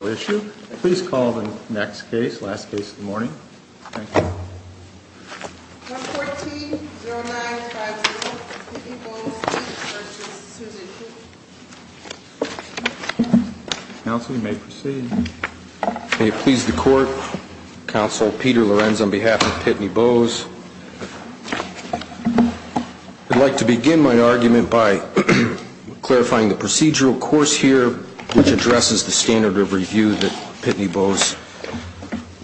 Please call the next case, last case of the morning. Thank you. Number 14-0950, Pitney Bowes, Inc. v. Sousa, Inc. Counsel, you may proceed. May it please the Court, Counsel Peter Lorenz on behalf of Pitney Bowes. I'd like to begin my argument by clarifying the procedural course here, which addresses the standard of review that Pitney Bowes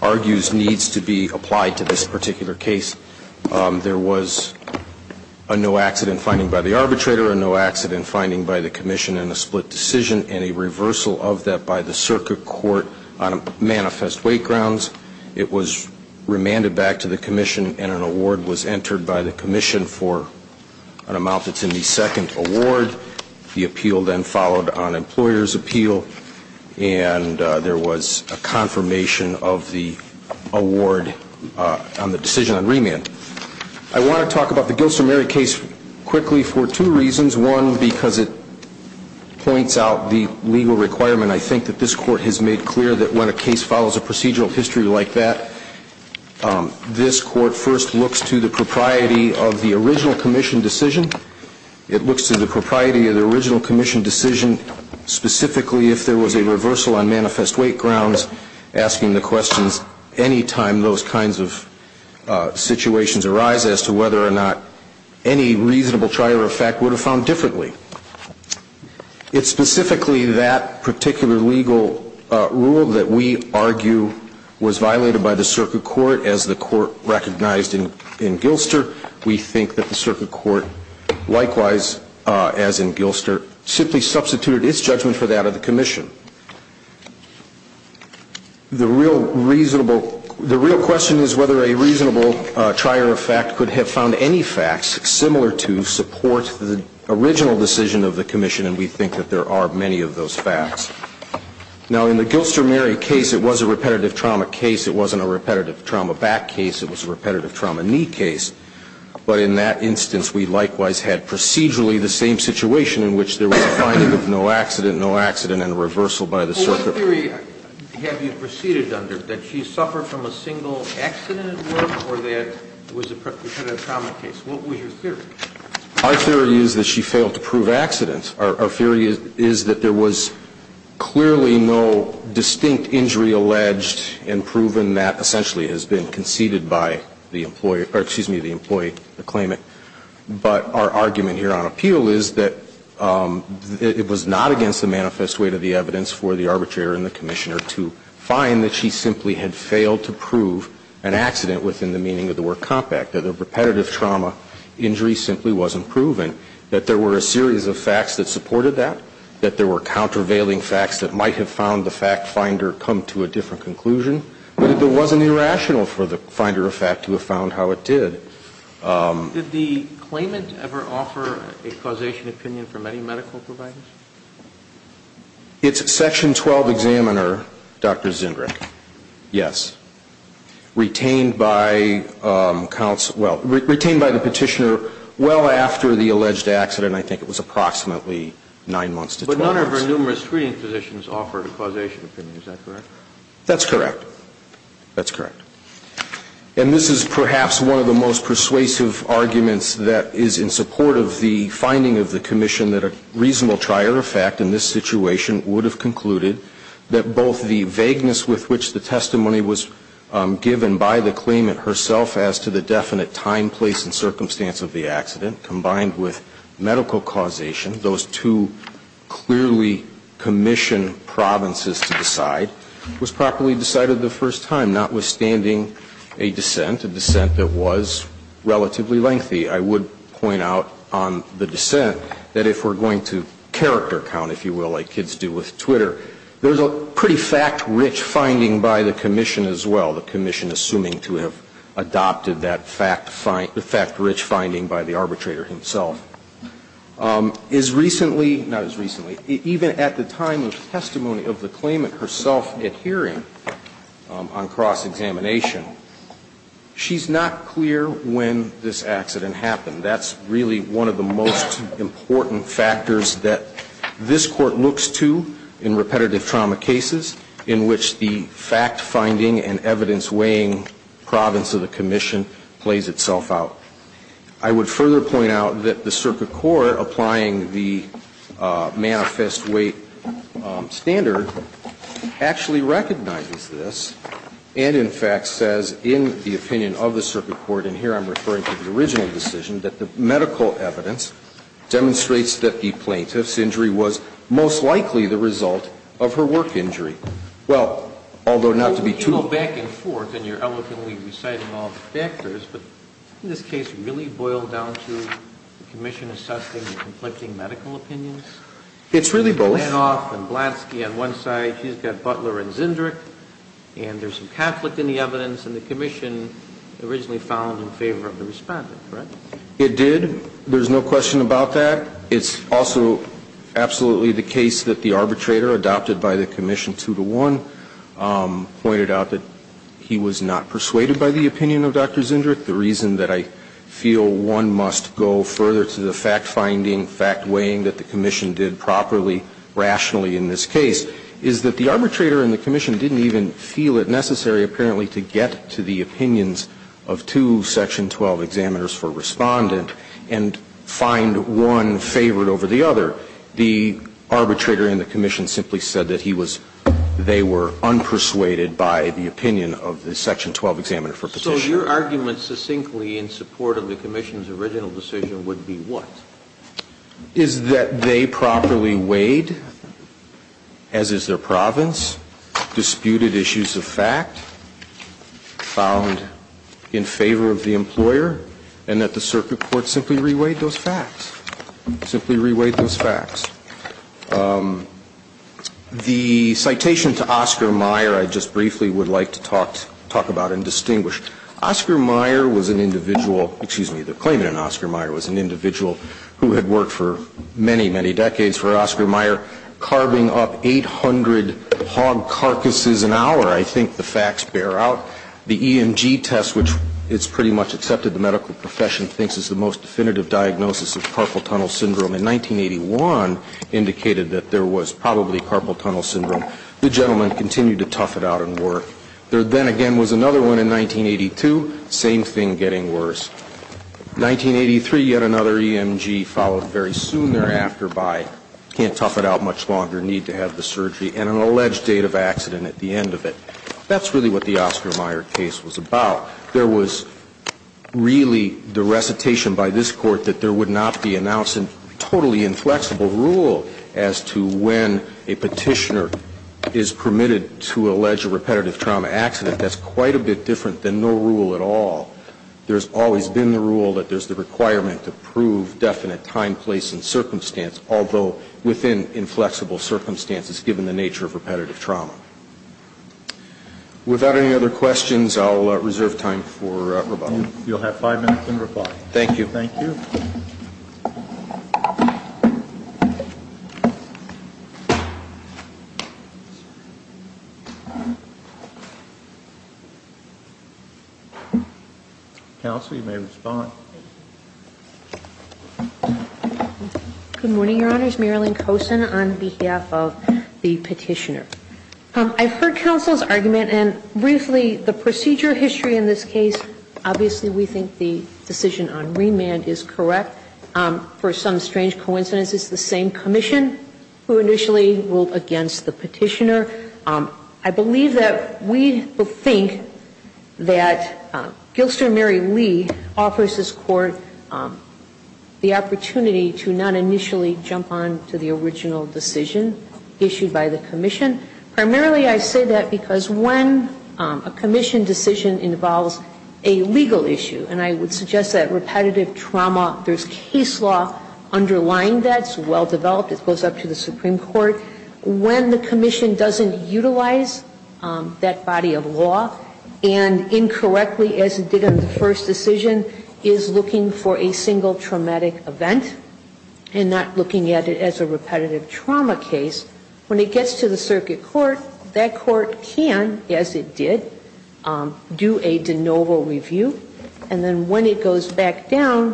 argues needs to be applied to this particular case. There was a no-accident finding by the arbitrator, a no-accident finding by the Commission, and a split decision and a reversal of that by the Circuit Court on manifest weight grounds. It was remanded back to the Commission, and an award was entered by the Commission for an amount that's in the second award. The appeal then followed on employer's appeal, and there was a confirmation of the award on the decision on remand. I want to talk about the Gilson-Murray case quickly for two reasons. One, because it points out the legal requirement. I think that this Court has made clear that when a case follows a procedural history like that, this Court first looks to the propriety of the original Commission decision. It looks to the propriety of the original Commission decision, specifically if there was a reversal on manifest weight grounds, asking the questions any time those kinds of situations arise as to whether or not any reasonable trier of fact would have found differently. It's specifically that particular legal rule that we argue was violated by the Circuit Court as the Court recognized in Gilster. We think that the Circuit Court, likewise as in Gilster, simply substituted its judgment for that of the Commission. The real question is whether a reasonable trier of fact could have found any facts similar to support the original decision of the Commission, and we think that there are many of those facts. Now, in the Gilster-Murray case, it was a repetitive trauma case. It wasn't a repetitive trauma back case. It was a repetitive trauma knee case. But in that instance, we likewise had procedurally the same situation in which there was a finding of no accident, no accident, and a reversal by the Circuit Court. Kennedy. Well, what theory have you proceeded under, that she suffered from a single accident at work or that it was a repetitive trauma case? What was your theory? Our theory is that she failed to prove accidents. Our theory is that there was clearly no distinct injury alleged and proven that essentially has been conceded by the employee or, excuse me, the employee to claim it. But our argument here on appeal is that it was not against the manifest weight of the evidence for the arbitrator and the Commissioner to find that she simply had failed to prove an accident within the meaning of the word compact, that a repetitive trauma injury simply wasn't proven, that there were a series of facts that supported that, that there were countervailing facts that might have found the fact finder come to a different conclusion, but it wasn't irrational for the finder of fact to have found how it did. Did the claimant ever offer a causation opinion from any medical providers? It's Section 12 examiner, Dr. Zindrick. Yes. Retained by the petitioner well after the alleged accident. I think it was approximately nine months to 12 months. But none of her numerous screening positions offered a causation opinion. Is that correct? That's correct. That's correct. And this is perhaps one of the most persuasive arguments that is in support of the finding of the commission that a reasonable trier of fact in this situation would have concluded that both the vagueness with which the testimony was given by the claimant herself as to the definite time, place, and circumstance of the accident, combined with medical causation, those two clearly commissioned provinces to decide, was properly decided the first time, notwithstanding a dissent, a dissent that was relatively lengthy. I would point out on the dissent that if we're going to character count, if you will, like kids do with Twitter, there's a pretty fact-rich finding by the commission as well, the commission assuming to have adopted that fact-rich finding by the arbitrator himself. As recently, not as recently, even at the time of testimony of the claimant herself at hearing on cross-examination, she's not clear when this accident happened. That's really one of the most important factors that this Court looks to in repetitive trauma cases in which the fact-finding and evidence-weighing province of the commission plays itself out. I would further point out that the circuit court applying the manifest weight standard actually recognizes this and, in fact, says in the opinion of the circuit court, and here I'm referring to the original decision, that the medical evidence demonstrates that the plaintiff's injury was most likely the result of her work injury. Well, although not to be too. Sotomayor, you go back and forth and you're eloquently reciting all the factors, but in this case, it really boiled down to the commission assessing the conflicting medical opinions? It's really both. Blandhoff and Blansky on one side. And the other side is the fact-finding and evidence-weighing province, and the commission originally found in favor of the respondent, correct? It did. There's no question about that. It's also absolutely the case that the arbitrator adopted by the commission two to one pointed out that he was not persuaded by the opinion of Dr. Zinderich. The reason that I feel one must go further to the fact-finding, fact-weighing that the commission did properly, rationally in this case, is that the arbitrator and the commission didn't even feel it necessary apparently to get to the opinions of two section 12 examiners for respondent and find one favored over the other. The arbitrator and the commission simply said that he was they were unpersuaded by the opinion of the section 12 examiner for Petitioner. So your argument succinctly in support of the commission's original decision would be what? Is that they properly weighed, as is their province, disputed issues of fact, found in favor of the employer, and that the circuit court simply re-weighed those facts. Simply re-weighed those facts. The citation to Oscar Meyer I just briefly would like to talk about and distinguish. Oscar Meyer was an individual, excuse me, the claimant in Oscar Meyer was an individual who had worked for many, many decades for Oscar Meyer, carving up 800 hog carcasses an hour. I think the facts bear out. The EMG test, which it's pretty much accepted the medical profession thinks is the most definitive diagnosis of carpal tunnel syndrome in 1981, indicated that there was probably carpal tunnel syndrome. The gentleman continued to tough it out and work. There then again was another one in 1982, same thing getting worse. 1983, yet another EMG followed very soon thereafter by can't tough it out much longer, need to have the surgery, and an alleged date of accident at the end of it. That's really what the Oscar Meyer case was about. There was really the recitation by this Court that there would not be announced a totally inflexible rule as to when a Petitioner is permitted to allege a repetitive trauma accident. That's quite a bit different than no rule at all. There's always been the rule that there's the requirement to prove definite time, place, and circumstance, although within inflexible circumstances given the nature of repetitive trauma. Without any other questions, I'll reserve time for rebuttal. You'll have five minutes in rebuttal. Thank you. Thank you. Counsel, you may respond. Good morning, Your Honors. Marilyn Kosin on behalf of the Petitioner. I've heard counsel's argument, and briefly, the procedure history in this case, obviously we think the decision on remand is correct. For some strange coincidence, it's the same commission who initially ruled against the Petitioner. I believe that we think that Gilster Mary Lee offers this Court the opportunity to not initially jump on to the original decision issued by the commission. Primarily, I say that because when a commission decision involves a legal issue, and I would suggest that repetitive trauma, there's case law underlying that. It's well developed. It goes up to the Supreme Court. When the commission doesn't utilize that body of law and incorrectly, as it did in the first decision, is looking for a single traumatic event and not looking at it as a repetitive trauma case, when it gets to the circuit court, that court can, as it did, do a de novo review. And then when it goes back down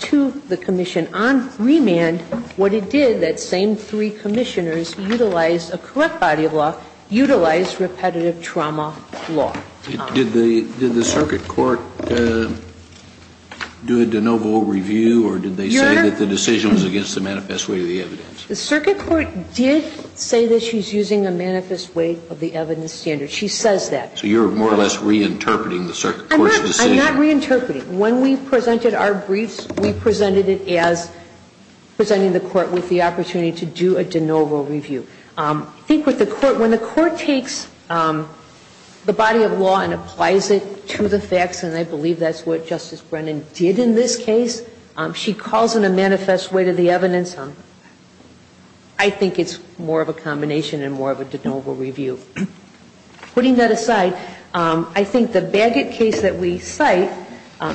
to the commission on remand, what it did, that same three commissioners utilized a correct body of law, utilized repetitive trauma law. Kennedy did the circuit court do a de novo review, or did they say that the decision was against the manifest weight of the evidence? The circuit court did say that she's using a manifest weight of the evidence standard. She says that. So you're more or less reinterpreting the circuit court's decision? I'm not reinterpreting. When we presented our briefs, we presented it as presenting the court with the opportunity to do a de novo review. I think with the court, when the court takes the body of law and applies it to the facts, and I believe that's what Justice Brennan did in this case, she calls in a manifest weight of the evidence. I think it's more of a combination and more of a de novo review. Putting that aside, I think the Bagot case that we cite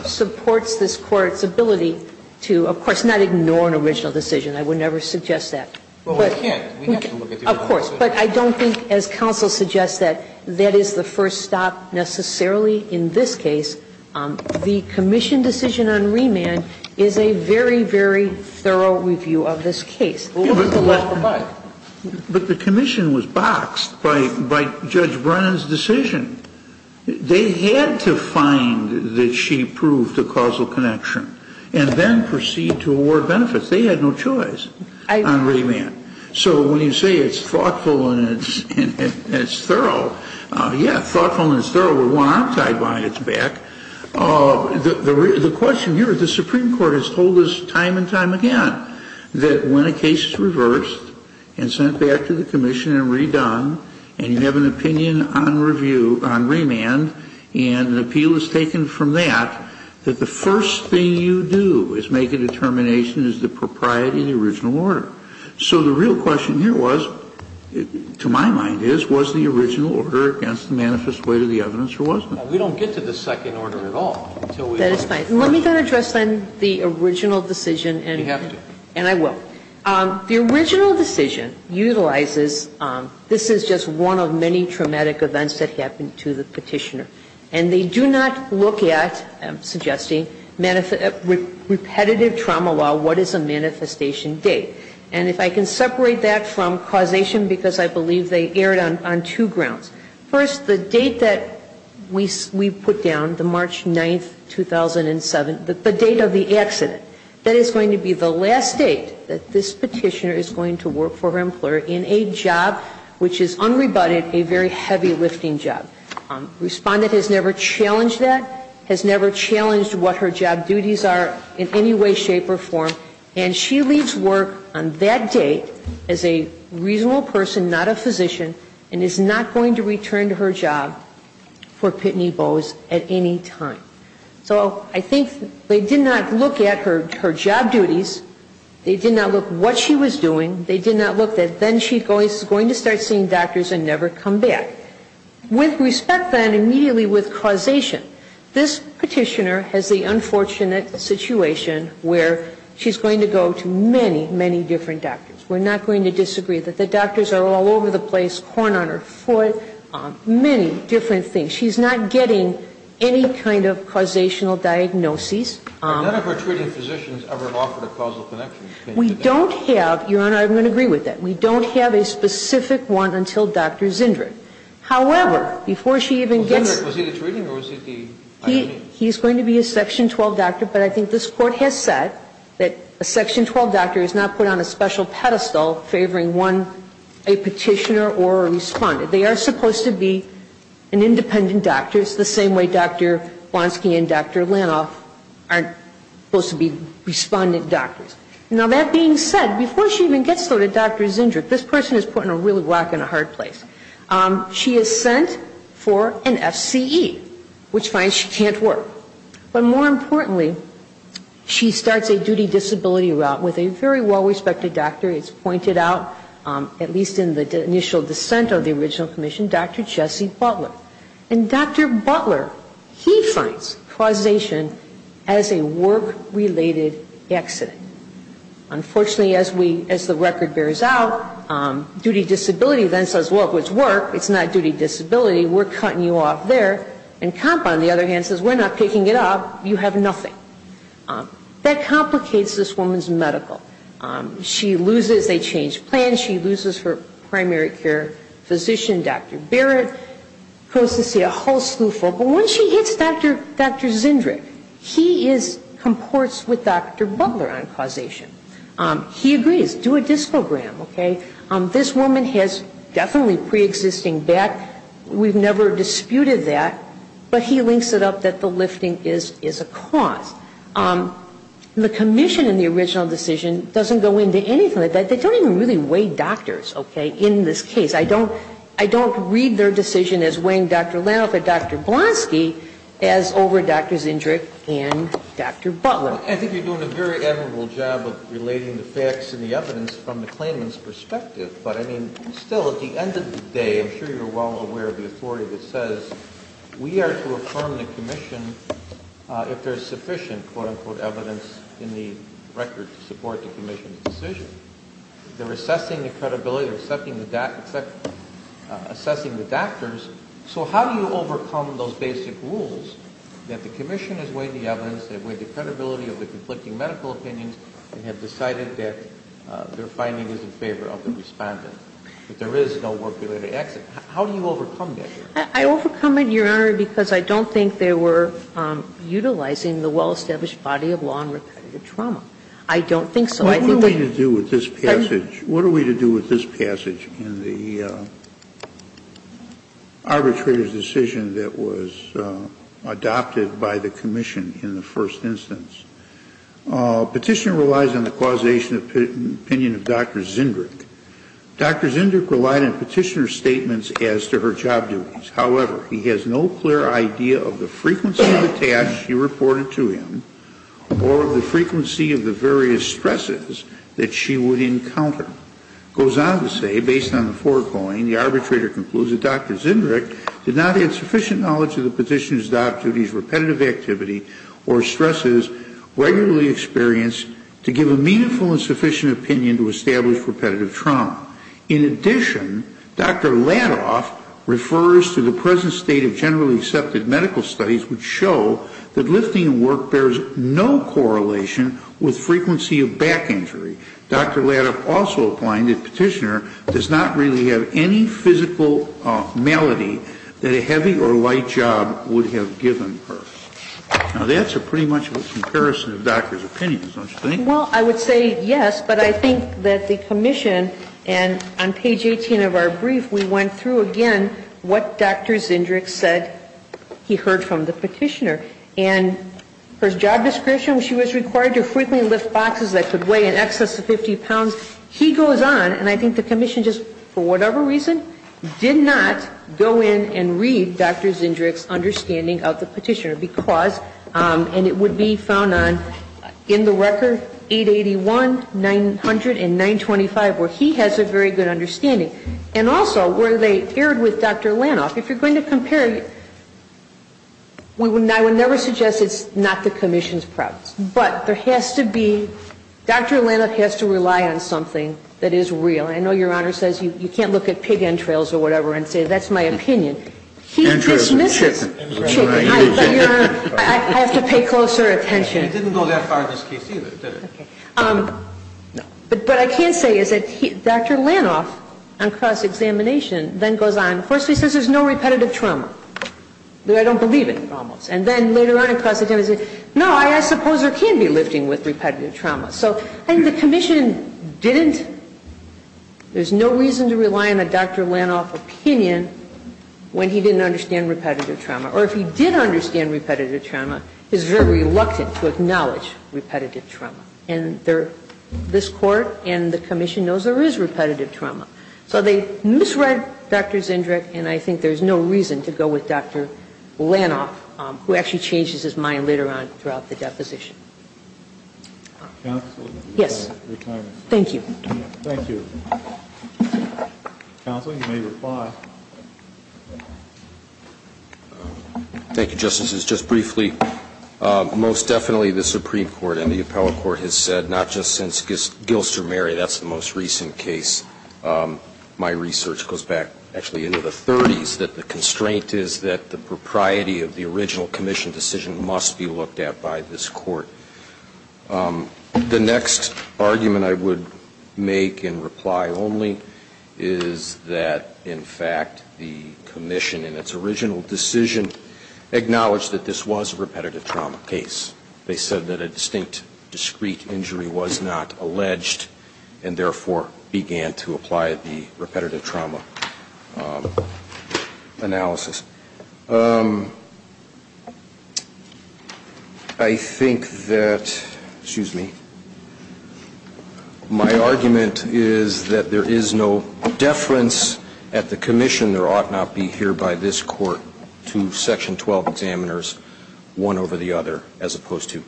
supports this Court's ability to, of course, not ignore an original decision. I would never suggest that. But I don't think, as counsel suggests, that that is the first stop necessarily in this case. The commission decision on remand is a very, very thorough review of this case. But the commission was boxed by Judge Brennan's decision. They had to find that she proved a causal connection and then proceed to award benefits. They had no choice on remand. So when you say it's thoughtful and it's thorough, yeah, thoughtful and it's thorough with one arm tied behind its back. The question here, the Supreme Court has told us time and time again that when a case is fixed, reversed, and sent back to the commission and redone, and you have an opinion on review, on remand, and an appeal is taken from that, that the first thing you do is make a determination is the propriety of the original order. So the real question here was, to my mind is, was the original order against the manifest weight of the evidence or wasn't it? We don't get to the second order at all. That is fine. Let me not address then the original decision. You have to. And I will. The original decision utilizes, this is just one of many traumatic events that happened to the Petitioner. And they do not look at, I'm suggesting, repetitive trauma law, what is a manifestation date. And if I can separate that from causation, because I believe they erred on two grounds. First, the date that we put down, the March 9, 2007, the date of the accident, that is going to be the last date that this Petitioner is going to work for her employer in a job which is unrebutted, a very heavy lifting job. Respondent has never challenged that, has never challenged what her job duties are in any way, shape, or form. And she leaves work on that date as a reasonable person, not a physician, and is not going to return to her job for Pitney Bowes at any time. So I think they did not look at her job duties. They did not look what she was doing. They did not look that then she's going to start seeing doctors and never come back. With respect, then, immediately with causation, this Petitioner has the unfortunate situation where she's going to go to many, many different doctors. We're not going to disagree that the doctors are all over the place, corn on her foot, many different things. She's not getting any kind of causational diagnoses. Kennedy. None of her treating physicians ever offered a causal connection. We don't have, Your Honor, I'm going to agree with that. We don't have a specific one until Dr. Zindrig. However, before she even gets. Was he the treating or was he the I.M.E.? He's going to be a Section 12 doctor. But I think this Court has said that a Section 12 doctor is not put on a special pedestal favoring one, a Petitioner or a Respondent. They are supposed to be an independent doctor. It's the same way Dr. Blonsky and Dr. Lanoff are supposed to be Respondent doctors. Now, that being said, before she even gets to Dr. Zindrig, this person is putting a real rock in a hard place. She is sent for an F.C.E., which finds she can't work. But more importantly, she starts a duty disability route with a very well-respected doctor. It's pointed out, at least in the initial dissent of the original commission, Dr. Jesse Butler. And Dr. Butler, he finds causation as a work-related accident. Unfortunately, as we – as the record bears out, duty disability then says, well, if it's work, it's not duty disability, we're cutting you off there. And COMP, on the other hand, says we're not picking it up. You have nothing. That complicates this woman's medical. She loses. They change plans. She loses her primary care physician, Dr. Barrett. Goes to see a whole slew of folks. But when she hits Dr. Zindrig, he is – comports with Dr. Butler on causation. He agrees. Do a discogram, okay? This woman has definitely preexisting back. We've never disputed that. But he links it up that the lifting is a cause. The commission in the original decision doesn't go into anything like that. They don't even really weigh doctors, okay, in this case. I don't – I don't read their decision as weighing Dr. Lanoff or Dr. Blonsky as over Dr. Zindrig and Dr. Butler. I think you're doing a very admirable job of relating the facts and the evidence from the claimant's perspective. But, I mean, still, at the end of the day, I'm sure you're well aware of the authority that says we are to affirm the commission if there is sufficient, quote-unquote, evidence in the record to support the commission's decision. They're assessing the credibility, they're assessing the doctors. So how do you overcome those basic rules that the commission has weighed the evidence, they've weighed the credibility of the conflicting medical opinions, and have decided that their finding is in favor of the respondent, that there is no work-related exit? How do you overcome that here? I overcome it, Your Honor, because I don't think they were utilizing the well-established body of law in repetitive trauma. I don't think so. I think that they – What are we to do with this passage? What are we to do with this passage in the arbitrator's decision that was adopted by the commission in the first instance? Petitioner relies on the causation opinion of Dr. Zindrig. Dr. Zindrig relied on petitioner's statements as to her job duties. However, he has no clear idea of the frequency of the tasks she reported to him or the frequency of the various stresses that she would encounter. It goes on to say, based on the foregoing, the arbitrator concludes that Dr. Zindrig did not have sufficient knowledge of the petitioner's job duties, repetitive activity, or stresses regularly experienced to give a meaningful and sufficient opinion to establish repetitive trauma. In addition, Dr. Ladoff refers to the present state of generally accepted medical studies which show that lifting work bears no correlation with frequency of back injury. Dr. Ladoff also opined that petitioner does not really have any physical malady that a heavy or light job would have given her. Now, that's pretty much a comparison of doctors' opinions, don't you think? Well, I would say yes, but I think that the commission, and on page 18 of our brief, we went through again what Dr. Zindrig said he heard from the petitioner. And her job description, she was required to frequently lift boxes that could weigh in excess of 50 pounds. He goes on, and I think the commission just, for whatever reason, did not go in and read Dr. Zindrig's understanding of the petitioner because, and it would be found in the record 881, 900, and 925 where he has a very good understanding, and also where they aired with Dr. Ladoff. If you're going to compare, I would never suggest it's not the commission's preference, but there has to be, Dr. Ladoff has to rely on something that is real. I know Your Honor says you can't look at pig entrails or whatever and say that's my opinion. Entrails of chicken. I have to pay closer attention. He didn't go that far in this case either, did he? No. But what I can say is that Dr. Ladoff, on cross-examination, then goes on. First he says there's no repetitive trauma. I don't believe it, almost. And then later on, he says, no, I suppose there can be lifting with repetitive trauma. And the commission didn't, there's no reason to rely on a Dr. Ladoff opinion when he didn't understand repetitive trauma. Or if he did understand repetitive trauma, he's very reluctant to acknowledge repetitive trauma. And this Court and the commission knows there is repetitive trauma. So they misread Dr. Zindrick, and I think there's no reason to go with Dr. Ladoff, who actually changes his mind later on throughout the deposition. Yes. Thank you. Thank you. Counsel, you may reply. Thank you, Justices. Just briefly, most definitely the Supreme Court and the appellate court has said, not just since Gilster-Mary, that's the most recent case, my research goes back actually into the 30s, that the constraint is that the propriety of the original commission decision must be looked at by this Court. The next argument I would make in reply only is that, in fact, the commission in its original decision acknowledged that this was a repetitive trauma case. They said that a distinct, discrete injury was not alleged, and therefore began to apply the repetitive trauma analysis. I think that, excuse me, my argument is that there is no deference at the commission there ought not be here by this Court to Section 12 examiners, one over the other, as opposed to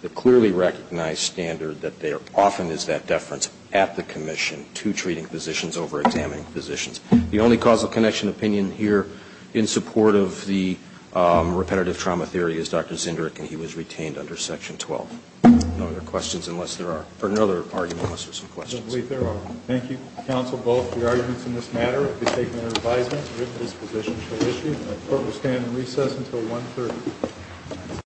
the clearly recognized standard that there often is that deference at the commission to treating physicians over examining physicians. The only causal connection opinion here in support of the repetitive trauma theory is Dr. Zinderich, and he was retained under Section 12. No other questions unless there are, or no other argument unless there are some questions. I believe there are. Thank you, Counsel, both for your arguments in this matter. I take no advisement that this position shall issue, and the Court will stand in recess until 1.30.